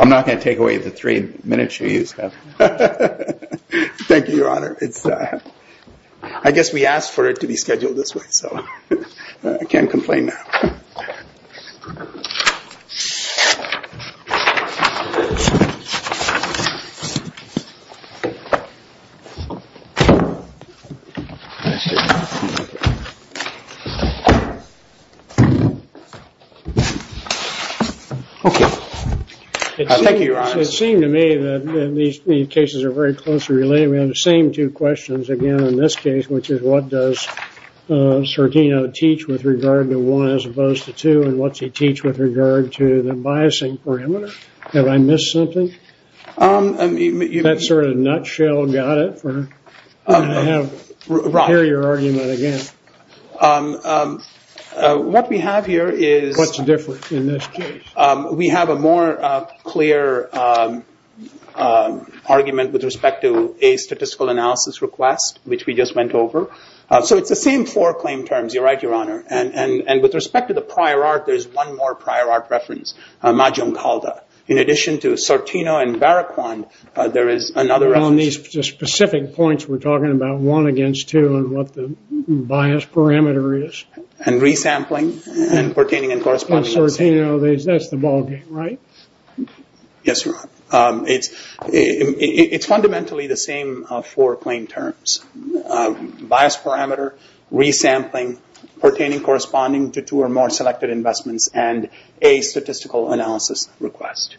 I'm not going to take away the three minutes you used, I'm just going to give you a little Thank you, Your Honor. I guess we asked for it to be scheduled this way, so I can't complain now. Thank you, Your Honor. What we have here is, we have a more clear argument with respect to a statistical analysis request, which we just went over. So it's the same four claim terms, you're right, Your Honor. And with respect to the prior art, there's one more prior art reference, Majum Calda. In addition to Sortino and Barroquand, there is another reference. On these specific points, we're talking about one against two, and what the bias parameter is. And resampling, and pertaining and corresponding. On Sortino, that's the ballgame, right? Yes, Your Honor. It's fundamentally the same four claim terms. Bias parameter, resampling, pertaining and corresponding to two or more selected investments, and a statistical analysis request.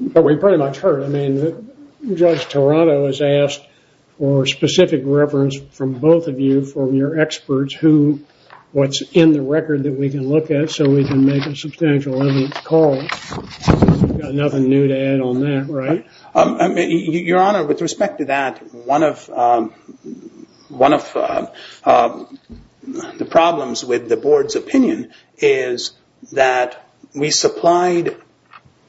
But we pretty much heard, I mean, Judge Toronto has asked for specific reference from both of you, from your experts, who, what's in the record that we can look at, so we can make a substantial evidence call. Nothing new to add on that, right? Your Honor, with respect to that, one of the problems with the Board's opinion is that we supplied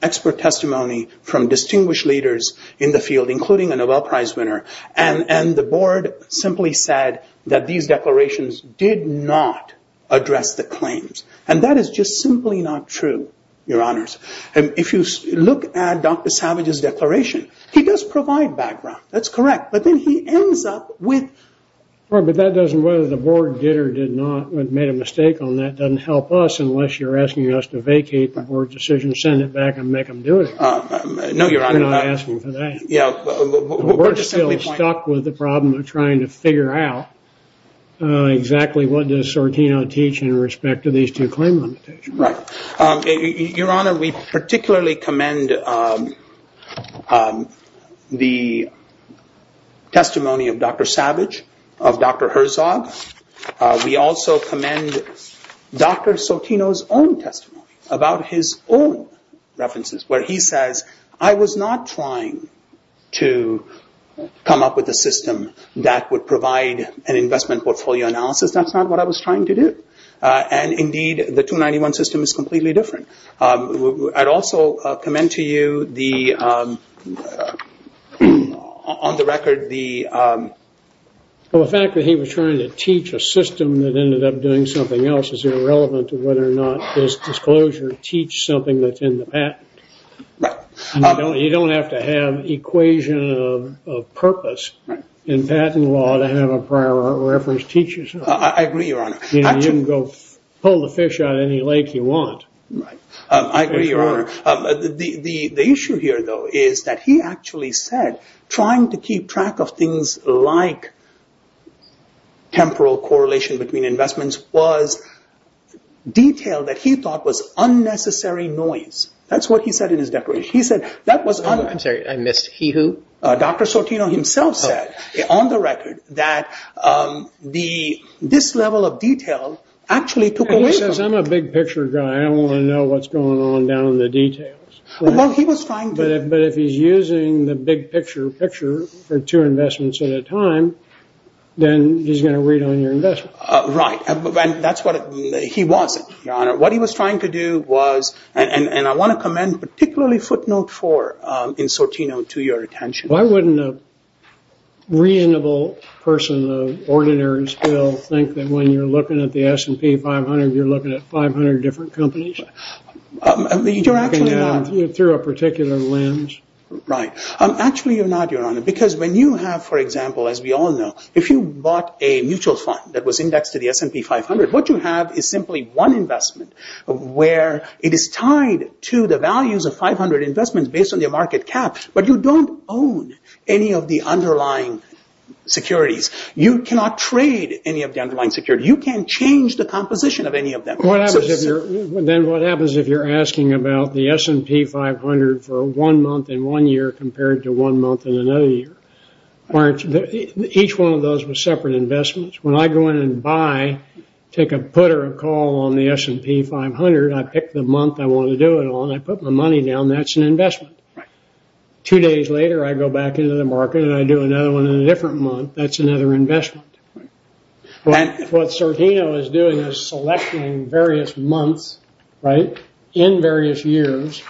expert testimony from distinguished leaders in the field, including a Nobel Prize winner. And the Board simply said that these declarations did not address the claims. And that is just simply not true, Your Honors. If you look at Dr. Savage's declaration, he does provide background. That's correct. But then he ends up with... But that doesn't, whether the Board did or did not, made a mistake on that, doesn't help us unless you're asking us to vacate the Board decision, send it back, and make them do it again. No, Your Honor. We're not asking for that. Yeah. We're still stuck with the problem of trying to figure out exactly what does Sortino teach in respect to these two claim limitations. Right. Your Honor, we particularly commend the testimony of Dr. Savage, of Dr. Herzog. We also commend Dr. Sortino's own testimony about his own references, where he says, I was not trying to come up with a system that would provide an investment portfolio analysis. That's not what I was trying to do. And indeed, the 291 system is completely different. I'd also commend to you, on the record, the... Well, the fact that he was trying to teach a system that ended up doing something else is irrelevant to whether or not his disclosure teach something that's in the patent. Right. You don't have to have equation of purpose in patent law to have a prior reference teach you something. I agree, Your Honor. You can go pull the fish out of any lake you want. Right. I agree, Your Honor. The issue here, though, is that he actually said trying to keep track of things like temporal correlation between investments was detail that he thought was unnecessary noise. That's what he said in his declaration. He said that was... I'm sorry. I missed. He who? Dr. Sortino himself said, on the record, that this level of detail actually took away from... He says, I'm a big picture guy. I want to know what's going on down in the details. Well, he was trying to... But if he's using the big picture picture for two investments at a time, then he's going to read on your investment. And that's what he wasn't, Your Honor. What he was trying to do was... And I want to commend particularly footnote four in Sortino to your attention. Why wouldn't a reasonable person of ordinary skill think that when you're looking at the S&P 500, you're looking at 500 different companies? You're actually not. Through a particular lens. Right. Actually, you're not, Your Honor. Because when you have, for example, as we all know, if you bought a mutual fund that was indexed to the S&P 500, what you have is simply one investment. Where it is tied to the values of 500 investments based on your market cap. But you don't own any of the underlying securities. You cannot trade any of the underlying securities. You can't change the composition of any of them. Then what happens if you're asking about the S&P 500 for one month and one year compared to one month and another year? Each one of those was separate investments. When I go in and buy, take a put or a call on the S&P 500, I pick the month I want to do it on. I put my money down. That's an investment. Two days later, I go back into the market and I do another one in a different month. That's another investment. What Sertino is doing is selecting various months in various years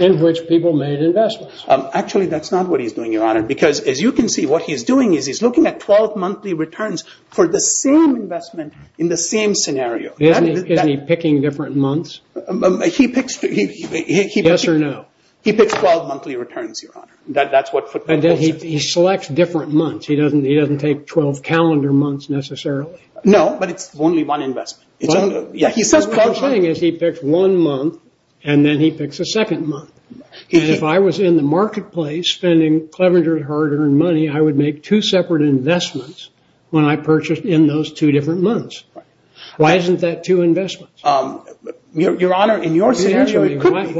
in which people made investments. Actually, that's not what he's doing, Your Honor. Because as you can see, what he's doing is he's looking at 12 monthly returns for the same investment in the same scenario. Isn't he picking different months? Yes or no? He picks 12 monthly returns, Your Honor. He selects different months. He doesn't take 12 calendar months necessarily. No, but it's only one investment. The thing is he picks one month and then he picks a second month. If I was in the marketplace spending Clevenger hard-earned money, I would make two separate investments when I purchased in those two different months. Why isn't that two investments? Your Honor, in your scenario, it could be.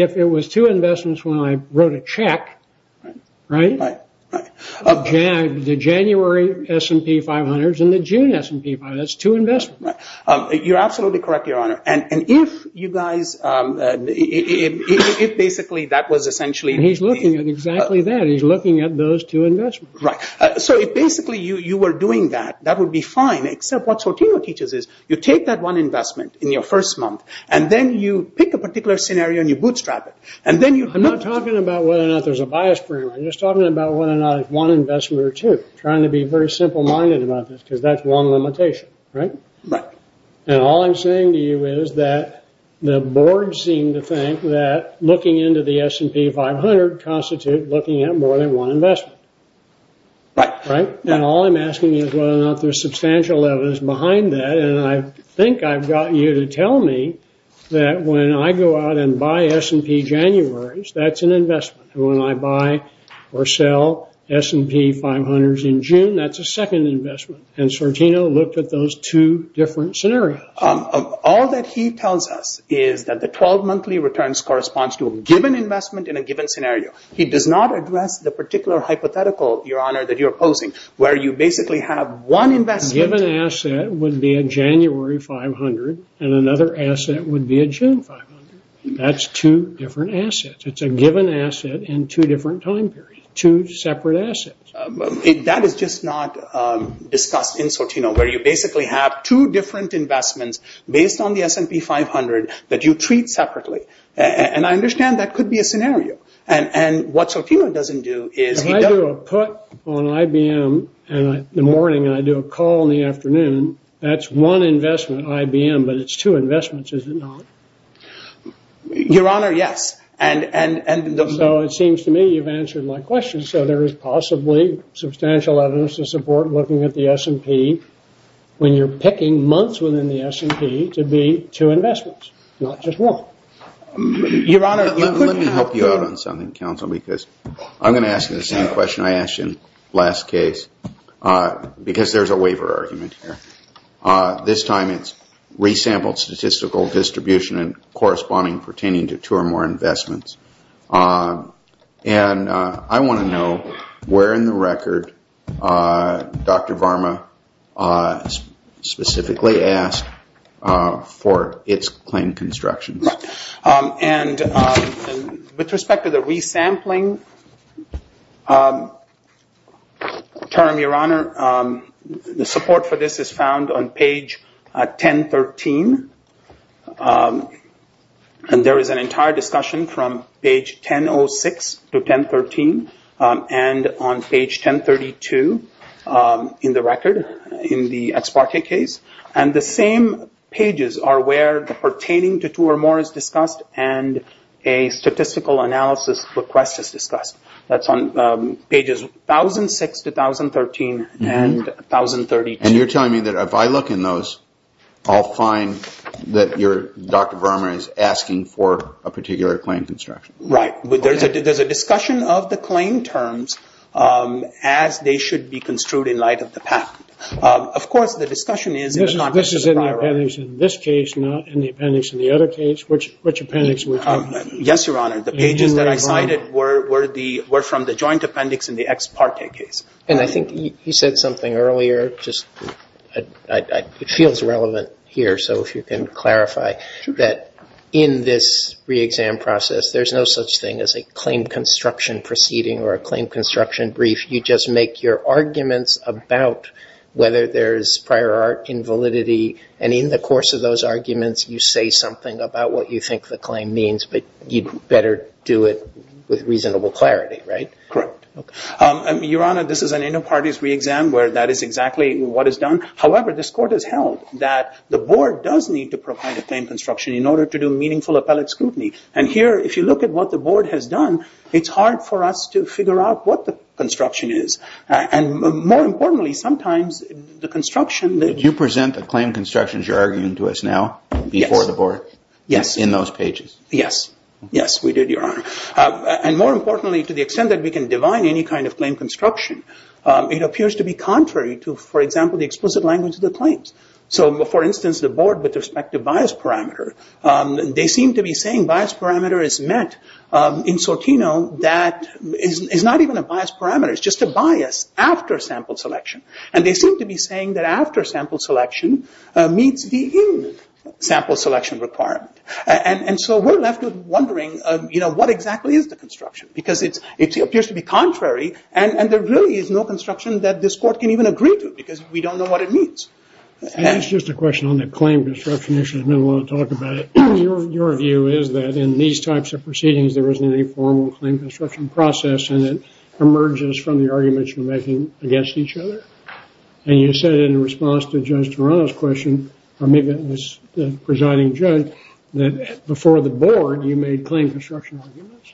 If it was two investments when I wrote a check, right? The January S&P 500 and the June S&P 500, that's two investments. You're absolutely correct, Your Honor. He's looking at exactly that. He's looking at those two investments. Right. If basically you were doing that, that would be fine, except what Sertino teaches is you take that one investment in your first month and then you pick a particular scenario and you bootstrap it. I'm not talking about whether or not there's a bias program. I'm just talking about whether or not it's one investment or two. I'm trying to be very simple-minded about this because that's one limitation, right? Right. All I'm saying to you is that the board seemed to think that looking into the S&P 500 constitutes looking at more than one investment. Right. All I'm asking is whether or not there's substantial evidence behind that. I think I've got you to tell me that when I go out and buy S&P Januaries, that's an investment. When I buy or sell S&P 500s in June, that's a second investment. And Sertino looked at those two different scenarios. All that he tells us is that the 12 monthly returns corresponds to a given investment in a given scenario. He does not address the particular hypothetical, Your Honor, that you're opposing, where you basically have one investment. A given asset would be a January 500 and another asset would be a June 500. That's two different assets. It's a given asset in two different time periods, two separate assets. That is just not discussed in Sertino, where you basically have two different investments based on the S&P 500 that you treat separately. And I understand that could be a scenario. And what Sertino doesn't do is he doesn't… If I do a put on IBM in the morning and I do a call in the afternoon, that's one investment on IBM, but it's two investments, is it not? Your Honor, yes. So it seems to me you've answered my question. So there is possibly substantial evidence to support looking at the S&P when you're picking months within the S&P to be two investments, not just one. Your Honor, let me help you out on something, counsel, because I'm going to ask you the same question I asked you in the last case, because there's a waiver argument here. This time it's resampled statistical distribution and corresponding pertaining to two or more investments. And I want to know where in the record Dr. Varma specifically asked for its claim construction. And with respect to the resampling term, Your Honor, the support for this is found on page 1013. And there is an entire discussion from page 1006 to 1013 and on page 1032 in the record in the Ex parte case. And the same pages are where the pertaining to two or more is discussed and a statistical analysis request is discussed. That's on pages 1006 to 1013 and 1032. And you're telling me that if I look in those, I'll find that Dr. Varma is asking for a particular claim construction? Right. There's a discussion of the claim terms as they should be construed in light of the patent. Of course, the discussion is in the context of the prior argument. This is in the appendix in this case, not in the appendix in the other case. Which appendix were you talking about? Yes, Your Honor. The pages that I cited were from the joint appendix in the Ex parte case. And I think you said something earlier, just it feels relevant here. So if you can clarify that in this reexam process, there's no such thing as a claim construction proceeding or a claim construction brief. You just make your arguments about whether there's prior art invalidity. And in the course of those arguments, you say something about what you think the claim means. But you'd better do it with reasonable clarity, right? Correct. Your Honor, this is an inter partes reexam where that is exactly what is done. However, this Court has held that the Board does need to provide a claim construction in order to do meaningful appellate scrutiny. And here, if you look at what the Board has done, it's hard for us to figure out what the construction is. And more importantly, sometimes the construction... Did you present the claim constructions you're arguing to us now? Yes. Before the Board? Yes. In those pages? Yes. Yes, we did, Your Honor. And more importantly, to the extent that we can divine any kind of claim construction, it appears to be contrary to, for example, the explicit language of the claims. So, for instance, the Board, with respect to bias parameter, they seem to be saying bias parameter is met in Sortino that is not even a bias parameter. It's just a bias after sample selection. And they seem to be saying that after sample selection meets the in-sample selection requirement. And so we're left with wondering, you know, what exactly is the construction? Because it appears to be contrary. And there really is no construction that this Court can even agree to because we don't know what it means. And it's just a question on the claim construction issue. There's been a lot of talk about it. Your view is that in these types of proceedings, there isn't any formal claim construction process. And it emerges from the arguments you're making against each other. And you said in response to Judge Toronto's question, or maybe it was the presiding judge, that before the Board, you made claim construction arguments.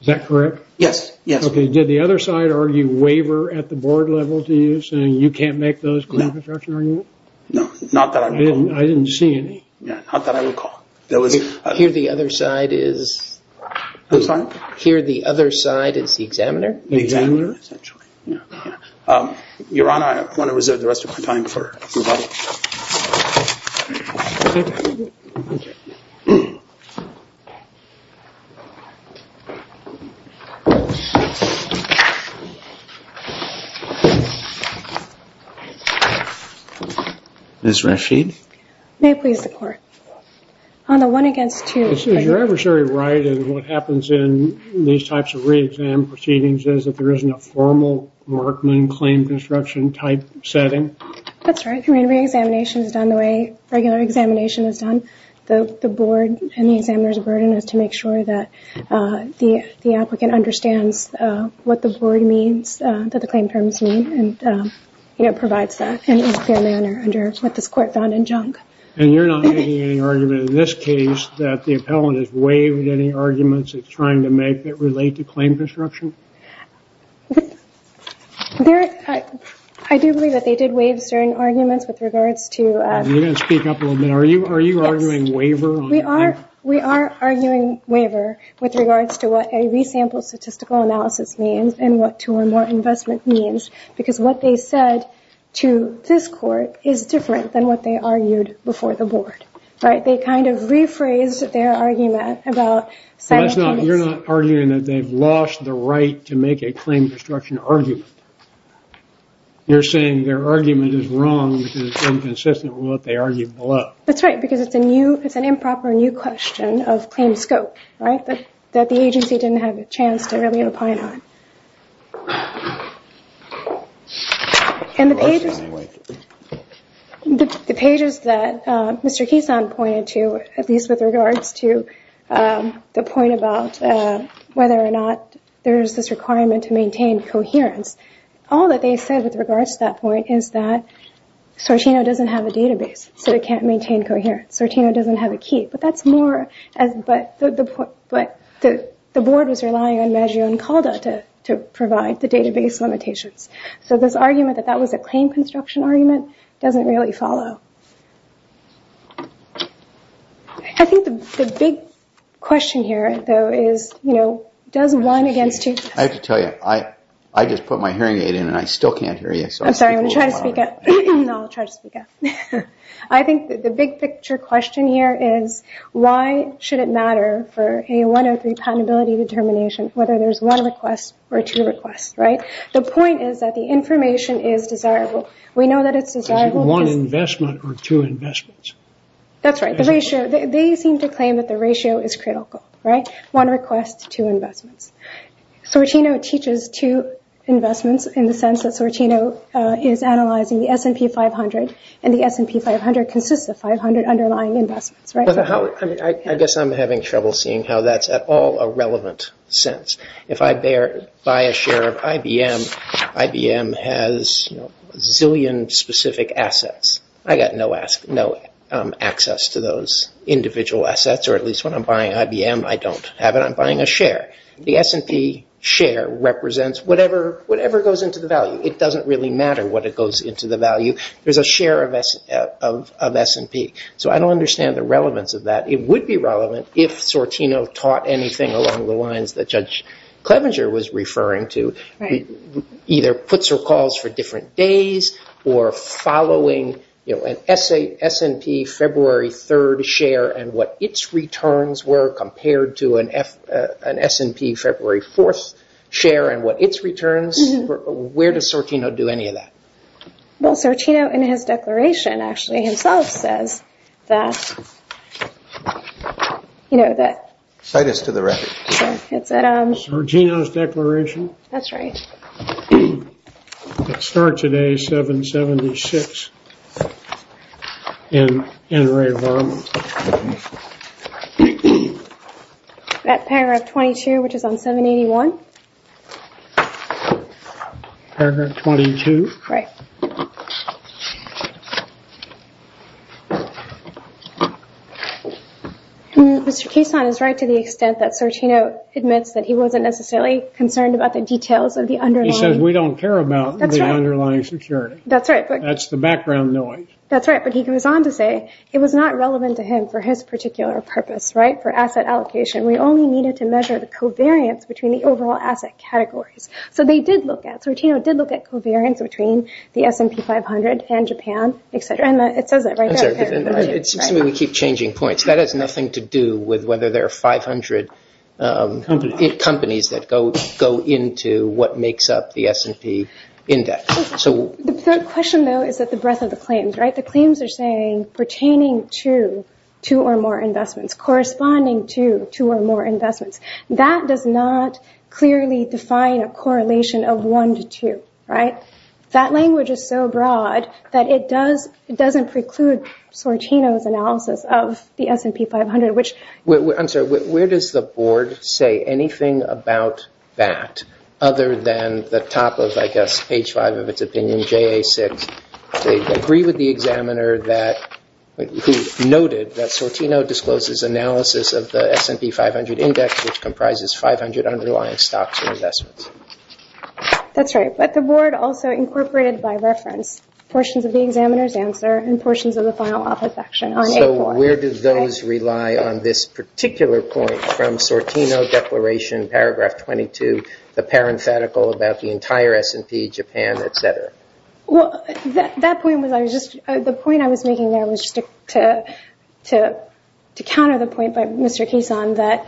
Is that correct? Yes. Okay. Did the other side argue waiver at the Board level to you, saying you can't make those claim construction arguments? No. Not that I recall. I didn't see any. Not that I recall. Here the other side is the examiner. The examiner, essentially. Your Honor, I want to reserve the rest of my time for rebuttal. Okay. Thank you. Ms. Rashid. May it please the Court. On the one against two. Is your adversary right in what happens in these types of re-exam proceedings is that there isn't a formal Markman claim construction type setting? That's right. Re-examination is done the way regular examination is done. The Board and the examiner's burden is to make sure that the applicant understands what the Board means, what the claim terms mean. And provides that in a clear manner under what this Court found in junk. And you're not making any argument in this case that the appellant has waived any arguments it's trying to make that relate to claim construction? I do believe that they did waive certain arguments with regards to... You didn't speak up a little bit. Are you arguing waiver? We are arguing waiver with regards to what a re-sample statistical analysis means and what two or more investment means. Because what they said to this Court is different than what they argued before the Board. They kind of rephrased their argument about... You're not arguing that they've lost the right to make a claim construction argument. You're saying their argument is wrong because it's inconsistent with what they argued below. That's right. Because it's an improper new question of claim scope that the agency didn't have a chance to really opine on. And the pages that Mr. Kisan pointed to, at least with regards to the point about whether or not there's this requirement to maintain coherence, all that they said with regards to that point is that Sortino doesn't have a database. So they can't maintain coherence. Sortino doesn't have a key. But that's more... But the Board was relying on Maggio and Calda to provide the database limitations. So this argument that that was a claim construction argument doesn't really follow. I think the big question here though is, you know, does one against two... I have to tell you, I just put my hearing aid in and I still can't hear you. I'm sorry. I'm going to try to speak up. I'll try to speak up. I think the big picture question here is why should it matter for a 103 patentability determination whether there's one request or two requests, right? The point is that the information is desirable. We know that it's desirable... Is it one investment or two investments? That's right. They seem to claim that the ratio is critical, right? One request, two investments. Sortino teaches two investments in the sense that Sortino is analyzing the S&P 500, and the S&P 500 consists of 500 underlying investments, right? I guess I'm having trouble seeing how that's at all a relevant sense. If I buy a share of IBM, IBM has a zillion specific assets. I've got no access to those individual assets, or at least when I'm buying IBM I don't have it. I'm buying a share. The S&P share represents whatever goes into the value. It doesn't really matter what goes into the value. There's a share of S&P, so I don't understand the relevance of that. It would be relevant if Sortino taught anything along the lines that Judge Clevenger was referring to, either puts or calls for different days or following an S&P February 3rd share and what its returns were compared to an S&P February 4th share and what its returns were. Where does Sortino do any of that? Well, Sortino in his declaration actually himself says that... Cite us to the record. Sortino's declaration? That's right. It starts at A776 in Ray Varmus. That paragraph 22, which is on 781? Paragraph 22. Right. Mr. Cason is right to the extent that Sortino admits that he wasn't necessarily concerned about the details of the underlying... He says we don't care about the underlying security. That's right. That's the background noise. That's right, but he goes on to say it was not relevant to him for his particular purpose, right, for asset allocation. We only needed to measure the covariance between the overall asset categories. So they did look at... Sortino did look at covariance between the S&P 500 and Japan, et cetera, and it says that right there. I'm sorry, but it seems to me we keep changing points. That has nothing to do with whether there are 500 companies that go into what makes up the S&P index. The question, though, is that the breadth of the claims, right? The claims are saying pertaining to two or more investments, corresponding to two or more investments. That does not clearly define a correlation of one to two, right? That language is so broad that it doesn't preclude Sortino's analysis of the S&P 500, which... I'm sorry. Where does the board say anything about that other than the top of, I guess, page five of its opinion, JA6, they agree with the examiner who noted that Sortino discloses analysis of the S&P 500 index, which comprises 500 underlying stocks and investments? That's right, but the board also incorporated by reference portions of the examiner's answer and portions of the final office action on A4. So where do those rely on this particular point from Sortino declaration, paragraph 22, the parenthetical about the entire S&P, Japan, et cetera? Well, that point was I was just... The point I was making there was just to counter the point by Mr. Kisan that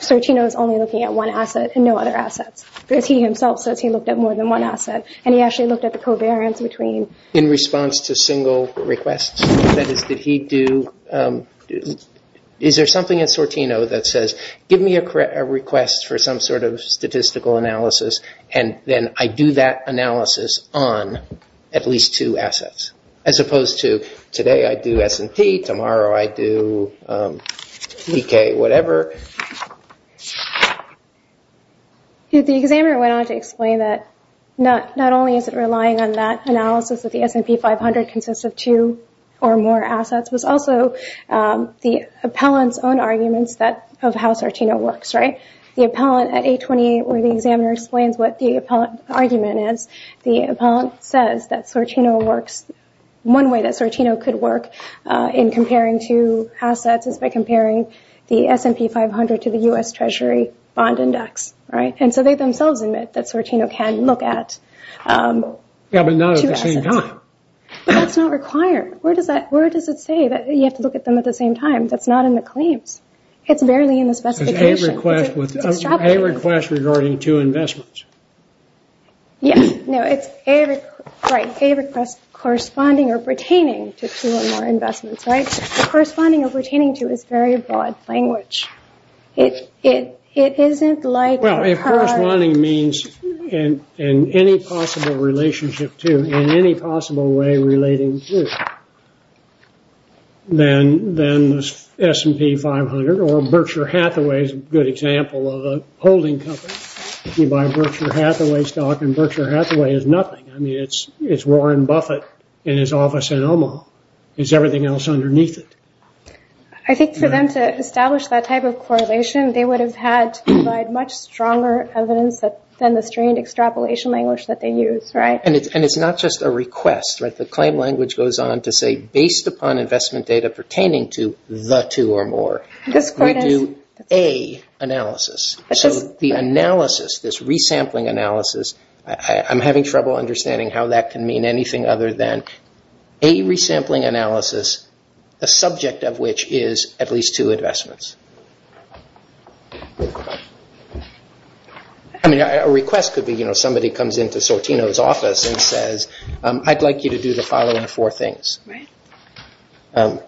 Sortino is only looking at one asset and no other assets, because he himself says he looked at more than one asset, and he actually looked at the covariance between... In response to single requests? That is, did he do... Is there something in Sortino that says, give me a request for some sort of statistical analysis, and then I do that analysis on at least two assets, as opposed to today I do S&P, tomorrow I do EK, whatever? The examiner went on to explain that not only is it relying on that analysis that the S&P 500 consists of two or more assets, but also the appellant's own arguments of how Sortino works, right? The appellant at A28, where the examiner explains what the appellant argument is, the appellant says that Sortino works... S&P 500 to the U.S. Treasury bond index, right? And so they themselves admit that Sortino can look at two assets. Yeah, but not at the same time. But that's not required. Where does it say that you have to look at them at the same time? That's not in the claims. It's barely in the specification. It's a request regarding two investments. Yeah. No, it's a request corresponding or pertaining to two or more investments, right? Corresponding or pertaining to is very broad language. It isn't like... Well, if corresponding means in any possible relationship to, in any possible way relating to, then the S&P 500 or Berkshire Hathaway is a good example of a holding company. You buy Berkshire Hathaway stock and Berkshire Hathaway is nothing. I mean, it's Warren Buffett in his office in Omaha. It's everything else underneath it. I think for them to establish that type of correlation, they would have had to provide much stronger evidence than the strained extrapolation language that they use, right? And it's not just a request, right? The claim language goes on to say, based upon investment data pertaining to the two or more. We do a analysis. So the analysis, this resampling analysis, I'm having trouble understanding how that can mean anything other than a resampling analysis, the subject of which is at least two investments. I mean, a request could be, you know, somebody comes into Sortino's office and says, I'd like you to do the following four things. You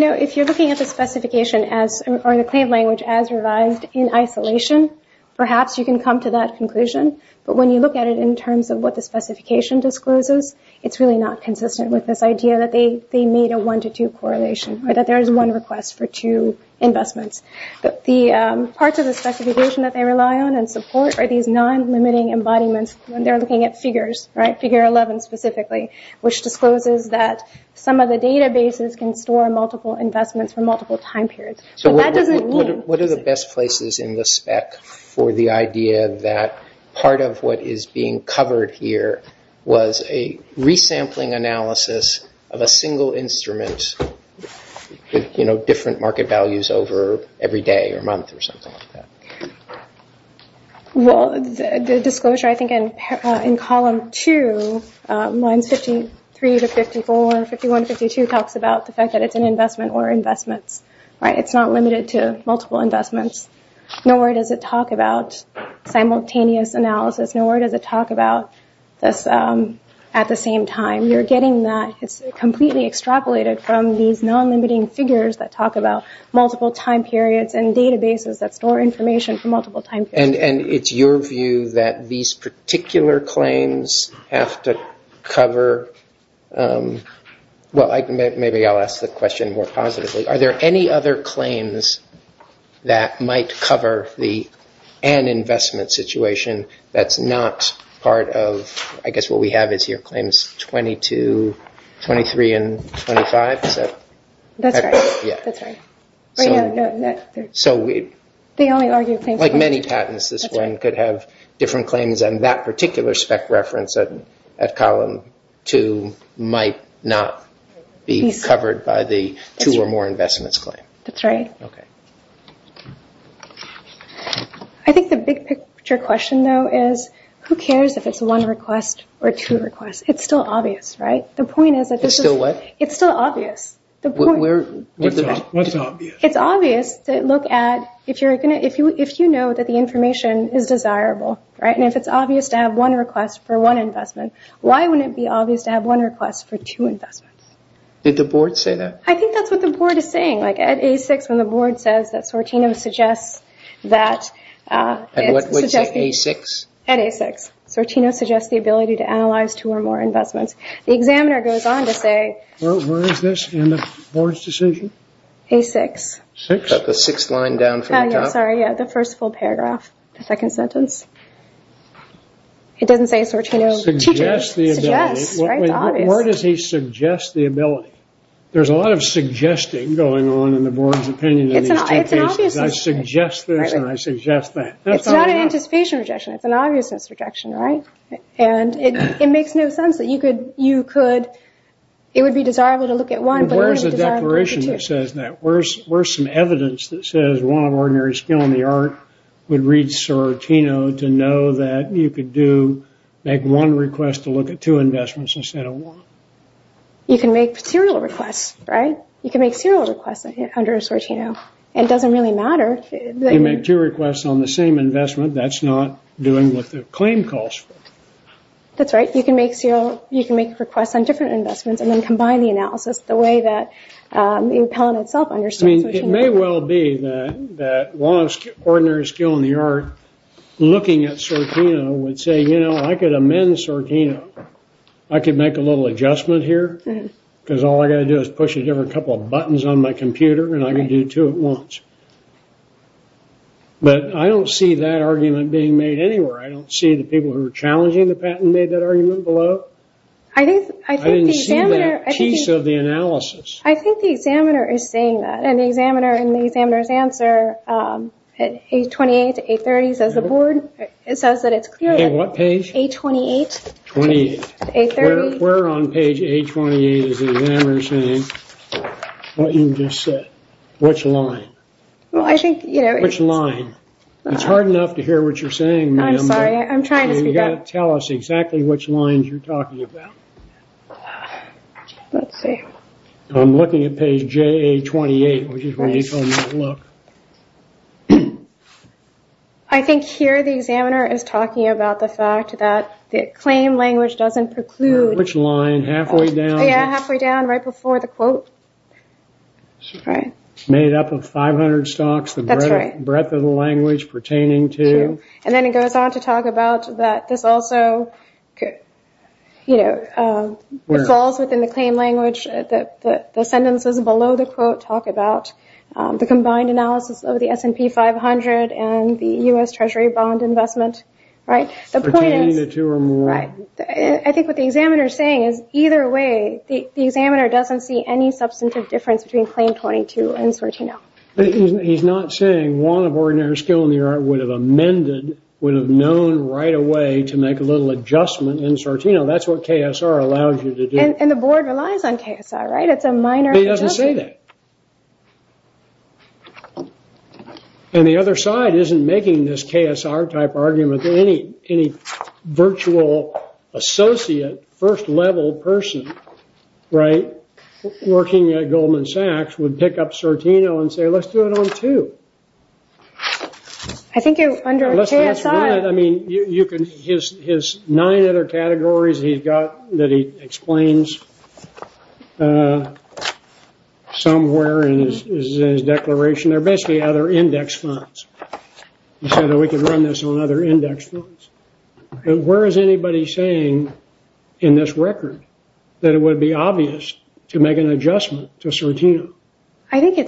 know, if you're looking at the specification or the claim language as revised in isolation, perhaps you can come to that conclusion. But when you look at it in terms of what the specification discloses, it's really not consistent with this idea that they made a one-to-two correlation or that there is one request for two investments. The parts of the specification that they rely on and support are these non-limiting embodiments. They're looking at figures, right, figure 11 specifically, which discloses that some of the databases can store multiple investments for multiple time periods. What are the best places in the spec for the idea that part of what is being covered here was a resampling analysis of a single instrument with, you know, different market values over every day or month or something like that? Well, the disclosure, I think, in column two, lines 53 to 54, 51 to 52, really talks about the fact that it's an investment or investments, right? It's not limited to multiple investments. Nor does it talk about simultaneous analysis. Nor does it talk about this at the same time. You're getting that. It's completely extrapolated from these non-limiting figures that talk about multiple time periods and databases that store information for multiple time periods. And it's your view that these particular claims have to cover – well, maybe I'll ask the question more positively. Are there any other claims that might cover the an investment situation that's not part of – I guess what we have is here claims 22, 23, and 25. That's right. Yeah. That's right. So we – Like many patents, this one could have different claims, and that particular spec reference at column two might not be covered by the two or more investments claim. That's right. Okay. I think the big picture question, though, is who cares if it's one request or two requests? It's still obvious, right? The point is that this is – It's still what? It's still obvious. What's obvious? It's obvious to look at if you know that the information is desirable, right? And if it's obvious to have one request for one investment, why wouldn't it be obvious to have one request for two investments? Did the board say that? I think that's what the board is saying. Like at A6 when the board says that Sortino suggests that – At what? At A6? At A6. Sortino suggests the ability to analyze two or more investments. The examiner goes on to say – Where is this in the board's decision? A6. The sixth line down from the top. Sorry, yeah, the first full paragraph, the second sentence. It doesn't say Sortino suggests the ability. Where does he suggest the ability? There's a lot of suggesting going on in the board's opinion in these two cases. I suggest this and I suggest that. It's not an anticipation rejection. It's an obviousness rejection, right? It makes no sense that you could – it would be desirable to look at one. Where's the declaration that says that? Where's some evidence that says one of ordinary skill in the art would read Sortino to know that you could make one request to look at two investments instead of one? You can make serial requests, right? You can make serial requests under Sortino. It doesn't really matter. You make two requests on the same investment, that's not doing what the claim calls for. That's right. You can make requests on different investments and then combine the analysis the way that the appellant itself understood. It may well be that one of ordinary skill in the art looking at Sortino would say, you know, I could amend Sortino. I could make a little adjustment here because all I've got to do is push a couple of buttons on my computer and I can do two at once. But I don't see that argument being made anywhere. I don't see the people who are challenging the patent made that argument below. I didn't see that piece of the analysis. I think the examiner is saying that. In the examiner's answer, page 28 to 830, it says that it's clear that – On what page? Page 28. 830? Where on page 828 is the examiner saying what you just said? Which line? Well, I think – Which line? It's hard enough to hear what you're saying, ma'am. I'm sorry. I'm trying to speak up. You've got to tell us exactly which lines you're talking about. Let's see. I'm looking at page JA28, which is where you told me to look. I think here the examiner is talking about the fact that the claim language doesn't preclude – Which line? Halfway down? Yeah, halfway down, right before the quote. Made up of 500 stocks. That's right. The breadth of the language pertaining to – And then it goes on to talk about that this also falls within the claim language. The sentences below the quote talk about the combined analysis of the S&P 500 and the U.S. Treasury bond investment, right? The point is – Pertaining to two or more. Right. I think what the examiner is saying is either way, the examiner doesn't see any substantive difference between claim 22 and Sartino. He's not saying one of ordinary skill in the art would have amended, would have known right away to make a little adjustment in Sartino. That's what KSR allows you to do. And the board relies on KSR, right? It's a minor adjustment. He doesn't say that. And the other side isn't making this KSR type argument. Any virtual associate, first level person, right, working at Goldman Sachs would pick up Sartino and say, let's do it on two. I think under KSR – his nine other categories that he explains somewhere in his declaration, they're basically other index funds. He said that we could run this on other index funds. Where is anybody saying in this record that it would be obvious to make an adjustment to Sartino? I think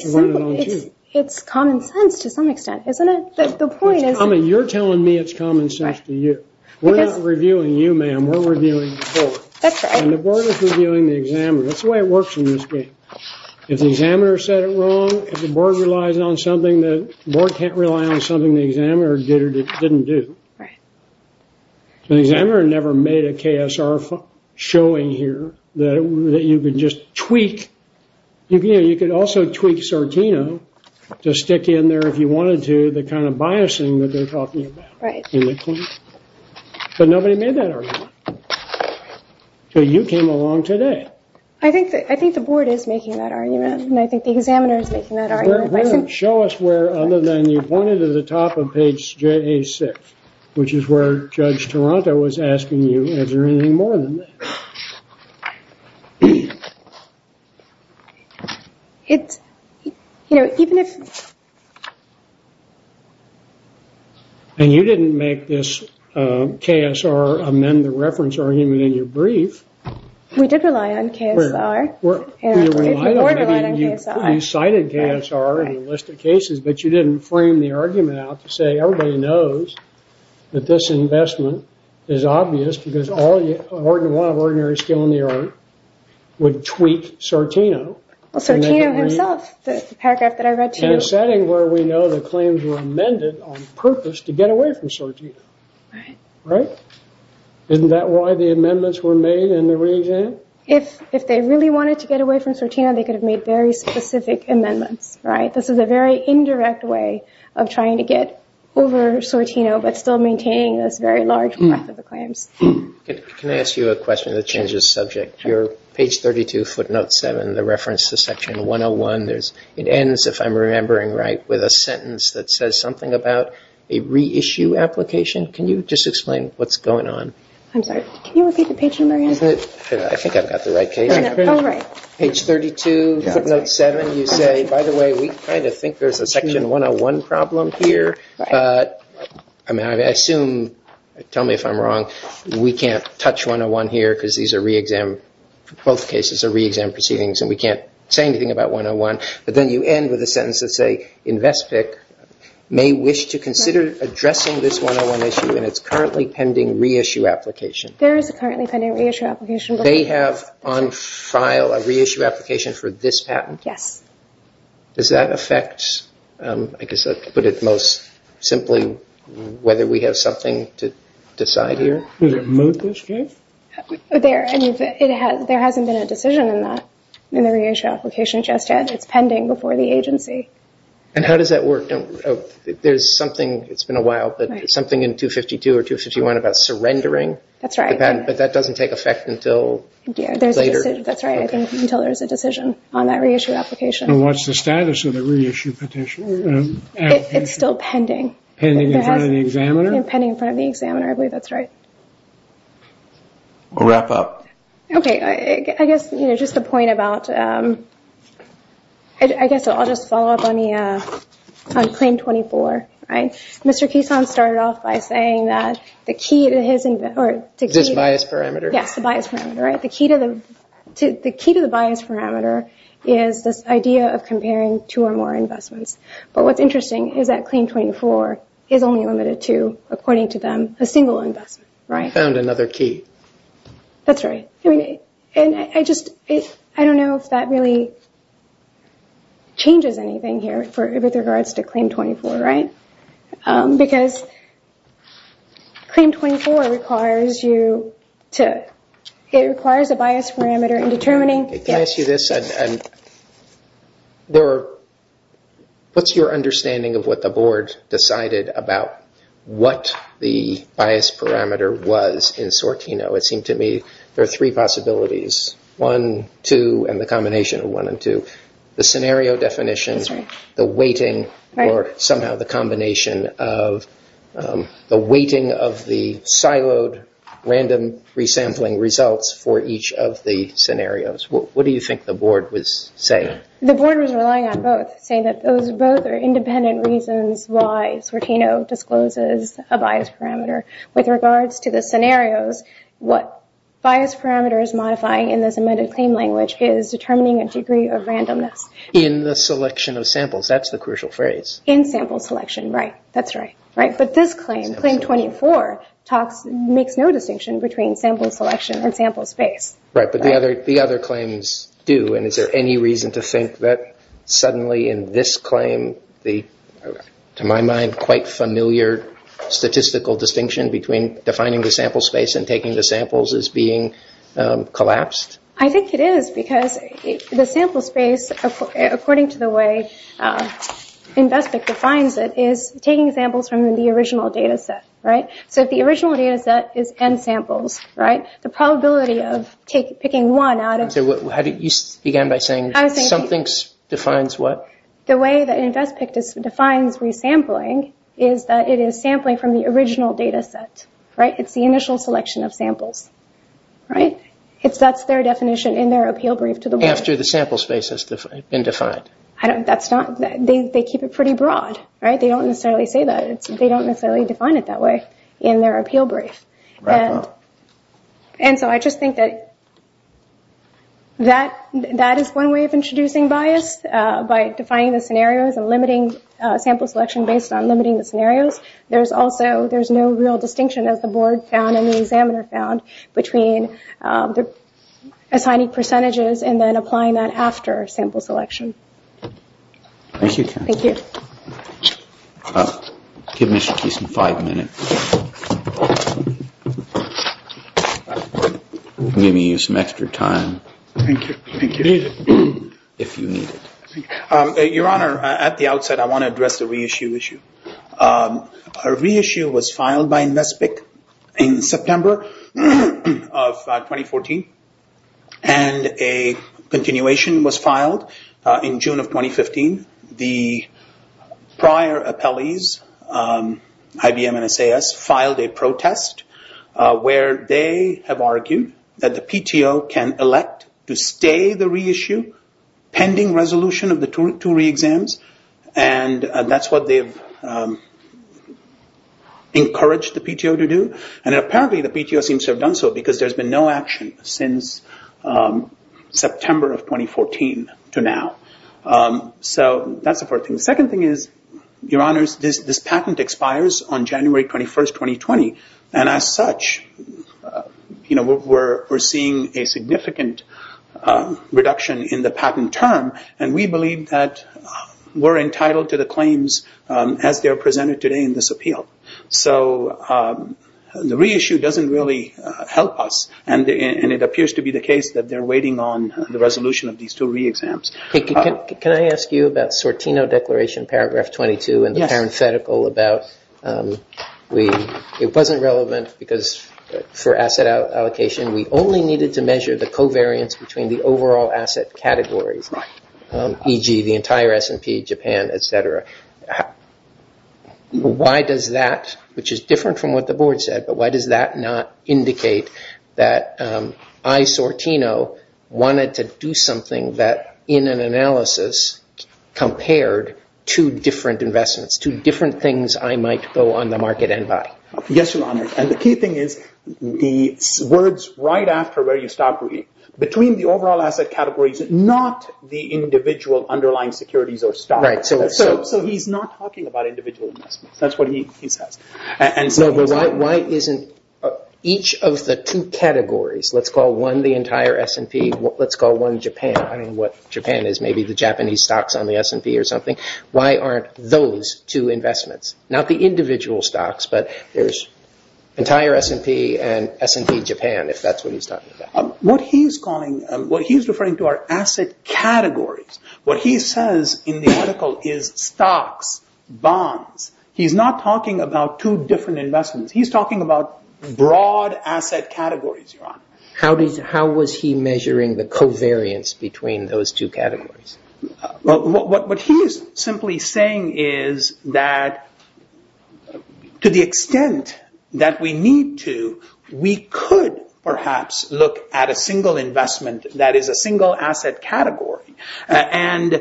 it's common sense to some extent, isn't it? You're telling me it's common sense to you. We're not reviewing you, ma'am. We're reviewing the board. And the board is reviewing the examiner. That's the way it works in this game. If the examiner said it wrong, the board can't rely on something the examiner did or didn't do. The examiner never made a KSR showing here that you could just tweak. You could also tweak Sartino to stick in there if you wanted to, the kind of biasing that they're talking about. But nobody made that argument. So you came along today. I think the board is making that argument, and I think the examiner is making that argument. Show us where other than you pointed to the top of page 6, which is where Judge Toronto was asking you, is there anything more than that? It's, you know, even if... And you didn't make this KSR amend the reference argument in your brief. We did rely on KSR. The board relied on KSR. You cited KSR in a list of cases, but you didn't frame the argument out to say everybody knows that this investment is obvious because one of ordinary skill in the art would tweak Sartino. Well, Sartino himself, the paragraph that I read to you. In a setting where we know the claims were amended on purpose to get away from Sartino. Right. Right? Isn't that why the amendments were made in the re-exam? If they really wanted to get away from Sartino, they could have made very specific amendments, right? This is a very indirect way of trying to get over Sartino but still maintaining this very large breadth of the claims. Can I ask you a question that changes the subject? Sure. Your page 32, footnote 7, the reference to section 101, it ends, if I'm remembering right, with a sentence that says something about a reissue application. Can you just explain what's going on? I'm sorry. Can you repeat the page number again? I think I've got the right case. Oh, right. Page 32, footnote 7. You say, by the way, we kind of think there's a section 101 problem here. I mean, I assume, tell me if I'm wrong, we can't touch 101 here because these are re-exam, both cases are re-exam proceedings and we can't say anything about 101. But then you end with a sentence that say, InvestPIC may wish to consider addressing this 101 issue and it's currently pending reissue application. There is a currently pending reissue application. They have on file a reissue application for this patent? Yes. Does that affect, I guess I could put it most simply, whether we have something to decide here? Does it move this case? There hasn't been a decision in that, in the reissue application just yet. It's pending before the agency. And how does that work? There's something, it's been a while, but something in 252 or 251 about surrendering? That's right. But that doesn't take effect until later? That's right. I think until there's a decision on that reissue application. And what's the status of the reissue petition? It's still pending. Pending in front of the examiner? Pending in front of the examiner. I believe that's right. We'll wrap up. Okay. I guess, you know, just the point about, I guess I'll just follow up on the claim 24. All right. Mr. Keystone started off by saying that the key to his... Is this bias parameter? Yes, the bias parameter, right? The key to the bias parameter is this idea of comparing two or more investments. But what's interesting is that claim 24 is only limited to, according to them, a single investment, right? Found another key. That's right. And I just, I don't know if that really changes anything here with regards to claim 24, right? Because claim 24 requires you to, it requires a bias parameter in determining... Can I ask you this? What's your understanding of what the board decided about what the bias parameter was in Sortino? It seemed to me there are three possibilities. One, two, and the combination of one and two. The scenario definitions, the weighting, or somehow the combination of the weighting of the siloed random resampling results for each of the scenarios. What do you think the board was saying? The board was relying on both, saying that those both are independent reasons why Sortino discloses a bias parameter. With regards to the scenarios, what bias parameter is modifying in this amended claim language is determining a degree of randomness. In the selection of samples. That's the crucial phrase. In sample selection, right. That's right. But this claim, claim 24, makes no distinction between sample selection and sample space. Right, but the other claims do. And is there any reason to think that suddenly in this claim, to my mind, quite familiar statistical distinction between defining the sample space and taking the samples is being collapsed? I think it is because the sample space, according to the way Invespik defines it, is taking samples from the original data set. So if the original data set is N samples, the probability of picking one out of... You began by saying something defines what? The way that Invespik defines resampling is that it is sampling from the original data set. Right? It's the initial selection of samples. Right? That's their definition in their appeal brief to the board. After the sample space has been defined. They keep it pretty broad. Right? They don't necessarily say that. They don't necessarily define it that way in their appeal brief. And so I just think that that is one way of introducing bias by defining the scenarios and limiting sample selection based on limiting the scenarios. There's also, there's no real distinction as the board found and the examiner found between assigning percentages and then applying that after sample selection. Thank you. Thank you. Give Mr. Kees some five minutes. Maybe use some extra time. Thank you. Thank you. If you need it. If you need it. Your Honor, at the outset I want to address the reissue issue. A reissue was filed by Invespik in September of 2014. And a continuation was filed in June of 2015. The prior appellees, IBM and SAS, filed a protest where they have argued that the PTO can elect to stay the reissue pending resolution of the two re-exams. And that's what they've encouraged the PTO to do. And apparently the PTO seems to have done so because there's been no action since September of 2014 to now. So that's the first thing. The second thing is, Your Honors, this patent expires on January 21, 2020. And as such, you know, we're seeing a significant reduction in the patent term. And we believe that we're entitled to the claims as they are presented today in this appeal. So the reissue doesn't really help us. And it appears to be the case that they're waiting on the resolution of these two re-exams. Can I ask you about Sortino Declaration, paragraph 22, and the parenthetical about it wasn't relevant because for asset allocation, we only needed to measure the covariance between the overall asset categories, e.g., the entire S&P, Japan, et cetera. Why does that, which is different from what the board said, why does that not indicate that I, Sortino, wanted to do something that in an analysis compared two different investments, two different things I might go on the market and buy? Yes, Your Honors. And the key thing is the words right after where you stop reading, between the overall asset categories, not the individual underlying securities or stock. Right. So he's not talking about individual investments. That's what he says. No, but why isn't each of the two categories, let's call one the entire S&P, let's call one Japan, I don't know what Japan is, maybe the Japanese stocks on the S&P or something, why aren't those two investments, not the individual stocks, but there's entire S&P and S&P Japan, if that's what he's talking about. What he's referring to are asset categories. What he says in the article is stocks, bonds. He's not talking about two different investments. He's talking about broad asset categories, Your Honor. How was he measuring the covariance between those two categories? What he is simply saying is that to the extent that we need to, we could perhaps look at a single investment that is a single asset category. And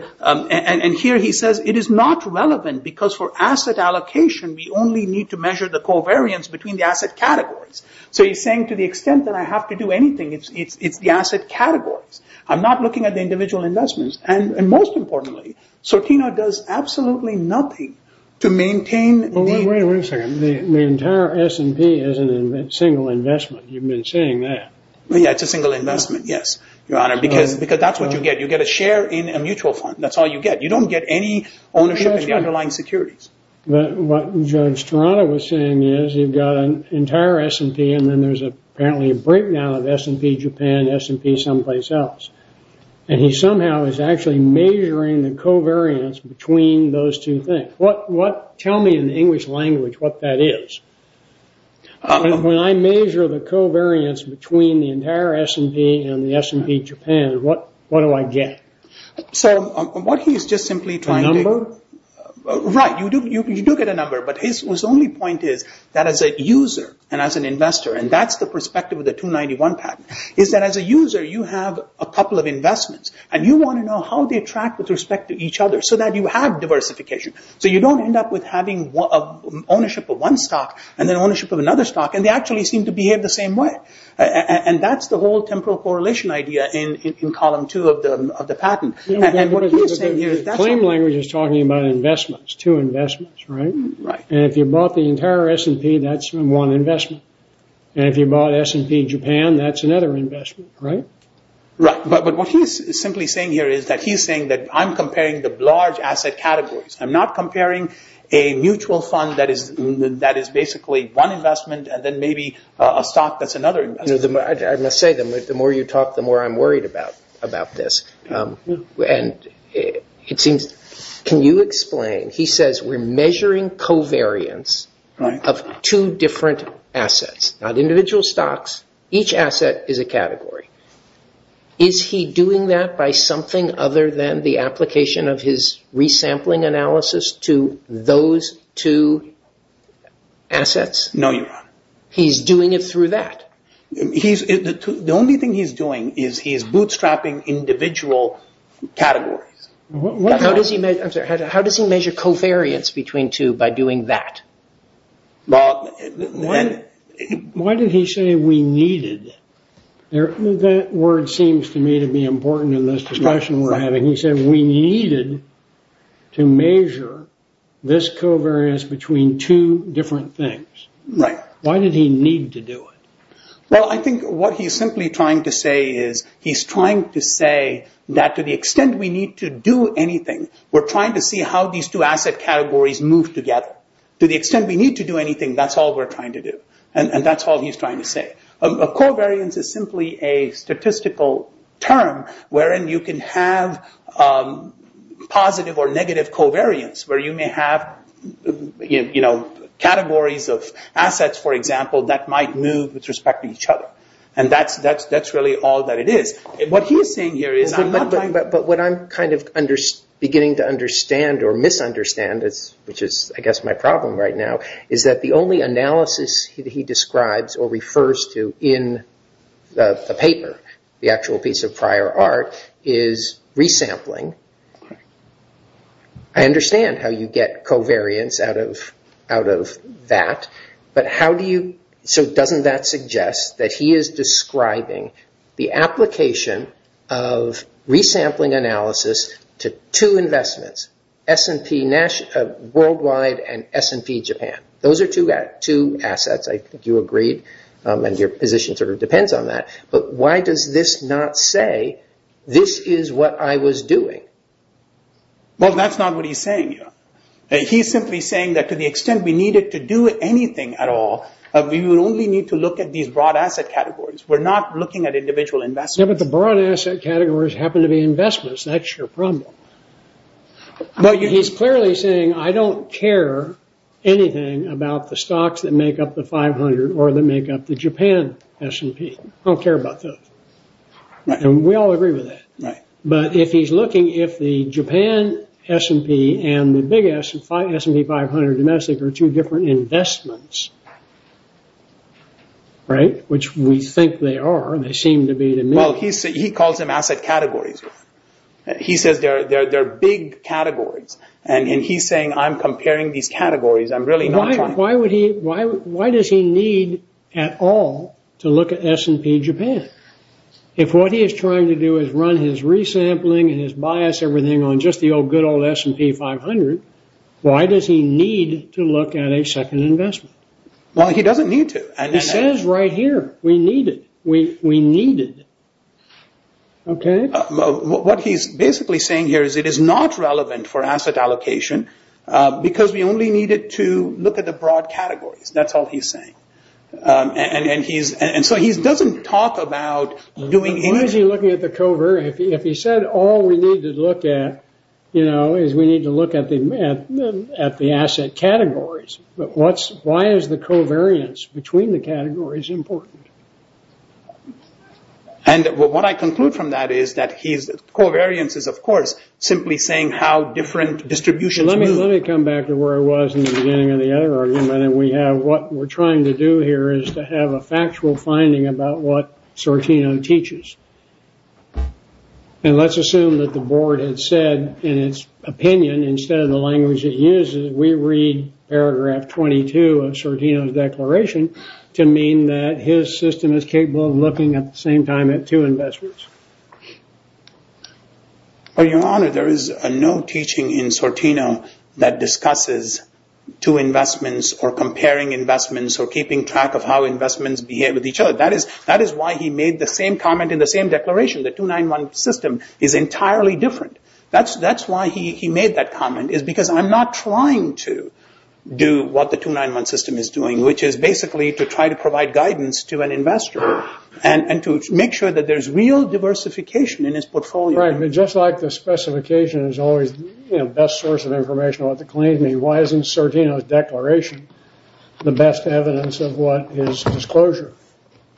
here he says it is not relevant because for asset allocation, we only need to measure the covariance between the asset categories. So he's saying to the extent that I have to do anything, it's the asset categories. I'm not looking at the individual investments. And most importantly, Sortino does absolutely nothing to maintain the- Wait a second. The entire S&P is a single investment. You've been saying that. Yeah, it's a single investment, yes, Your Honor, because that's what you get. You get a share in a mutual fund. That's all you get. You don't get any ownership of the underlying securities. What Judge Toronto was saying is you've got an entire S&P and then there's apparently a breakdown of S&P Japan, S&P someplace else. And he somehow is actually measuring the covariance between those two things. Tell me in the English language what that is. When I measure the covariance between the entire S&P and the S&P Japan, what do I get? So what he is just simply trying to- A number? Right. You do get a number. But his only point is that as a user and as an investor, and that's the perspective of the 291 patent, is that as a user you have a couple of investments and you want to know how they attract with respect to each other so that you have diversification. So you don't end up with having ownership of one stock and then ownership of another stock, and they actually seem to behave the same way. And that's the whole temporal correlation idea in Column 2 of the patent. And what he is saying here- But the claim language is talking about investments, two investments, right? Right. And if you bought the entire S&P, that's one investment. And if you bought S&P Japan, that's another investment, right? Right. But what he is simply saying here is that he is saying that I'm comparing the large asset categories. I'm not comparing a mutual fund that is basically one investment and then maybe a stock that's another investment. I must say, the more you talk, the more I'm worried about this. And it seems- can you explain? He says we're measuring covariance of two different assets, not individual stocks. Each asset is a category. Is he doing that by something other than the application of his resampling analysis to those two assets? No, Your Honor. He's doing it through that? The only thing he's doing is he's bootstrapping individual categories. How does he measure covariance between two by doing that? Well, why did he say we needed? That word seems to me to be important in this discussion we're having. He said we needed to measure this covariance between two different things. Right. Why did he need to do it? Well, I think what he's simply trying to say is he's trying to say that to the extent we need to do anything, we're trying to see how these two asset categories move together. To the extent we need to do anything, that's all we're trying to do. And that's all he's trying to say. Covariance is simply a statistical term wherein you can have positive or negative covariance where you may have categories of assets, for example, that might move with respect to each other. And that's really all that it is. What he's saying here is I'm not trying to... But what I'm kind of beginning to understand or misunderstand, which is I guess my problem right now, is that the only analysis he describes or refers to in the paper, the actual piece of prior art, is resampling. I understand how you get covariance out of that, but how do you... So doesn't that suggest that he is describing the application of resampling analysis to two investments, S&P Worldwide and S&P Japan? Those are two assets. I think you agreed, and your position sort of depends on that. But why does this not say this is what I was doing? Well, that's not what he's saying here. He's simply saying that to the extent we needed to do anything at all, we would only need to look at these broad asset categories. We're not looking at individual investments. Yeah, but the broad asset categories happen to be investments. That's your problem. He's clearly saying I don't care anything about the stocks that make up the 500 or that make up the Japan S&P. I don't care about those. And we all agree with that. But if he's looking if the Japan S&P and the big S, S&P 500 domestic, are two different investments, which we think they are, and they seem to be to me. Well, he calls them asset categories. He says they're big categories. And he's saying I'm comparing these categories. I'm really not trying. Why does he need at all to look at S&P Japan? If what he is trying to do is run his resampling and his bias, everything on just the good old S&P 500, why does he need to look at a second investment? Well, he doesn't need to. He says right here we need it. We need it. Okay? What he's basically saying here is it is not relevant for asset allocation because we only need it to look at the broad categories. That's all he's saying. And so he doesn't talk about doing anything. Why is he looking at the covariance? If he said all we need to look at, you know, is we need to look at the asset categories. Why is the covariance between the categories important? And what I conclude from that is that covariance is, of course, simply saying how different distributions move. Let me come back to where I was in the beginning of the other argument. What we're trying to do here is to have a factual finding about what Sortino teaches. And let's assume that the board had said in its opinion, instead of the language it uses, we read paragraph 22 of Sortino's declaration to mean that his system is capable of looking at the same time at two investments. Your Honor, there is no teaching in Sortino that discusses two investments or comparing investments or keeping track of how investments behave with each other. That is why he made the same comment in the same declaration. The 291 system is entirely different. That's why he made that comment, is because I'm not trying to do what the 291 system is doing, which is basically to try to provide guidance to an investor and to make sure that there's real diversification in his portfolio. Right, but just like the specification is always the best source of information, why isn't Sortino's declaration the best evidence of what his disclosure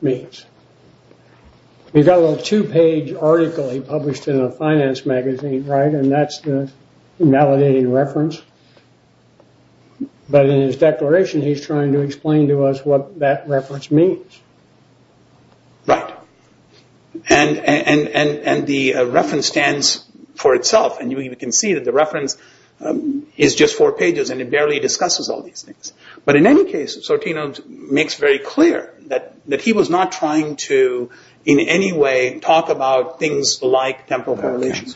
means? We've got a little two-page article he published in a finance magazine, right? And that's the validating reference. But in his declaration, he's trying to explain to us what that reference means. Right. And the reference stands for itself. And we can see that the reference is just four pages and it barely discusses all these things. But in any case, Sortino makes very clear that he was not trying to, in any way, talk about things like temporal correlations.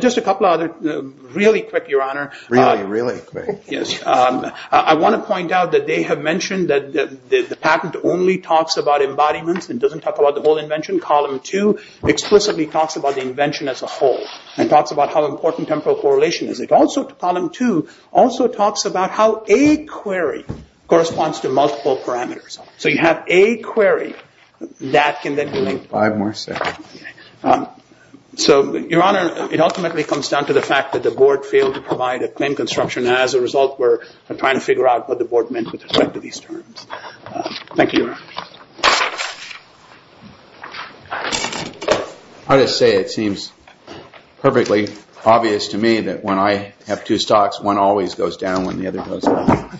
Just a couple of other, really quick, Your Honor. Really, really quick. I want to point out that they have mentioned that the patent only talks about embodiments and doesn't talk about the whole invention. Column two explicitly talks about the invention as a whole and talks about how important temporal correlation is. Column two also talks about how a query corresponds to multiple parameters. So you have a query that can then be linked. Five more seconds. So, Your Honor, it ultimately comes down to the fact that the board failed to provide a claim construction and as a result we're trying to figure out what the board meant with respect to these terms. Thank you, Your Honor. I just say it seems perfectly obvious to me that when I have two stocks, one always goes down when the other goes up.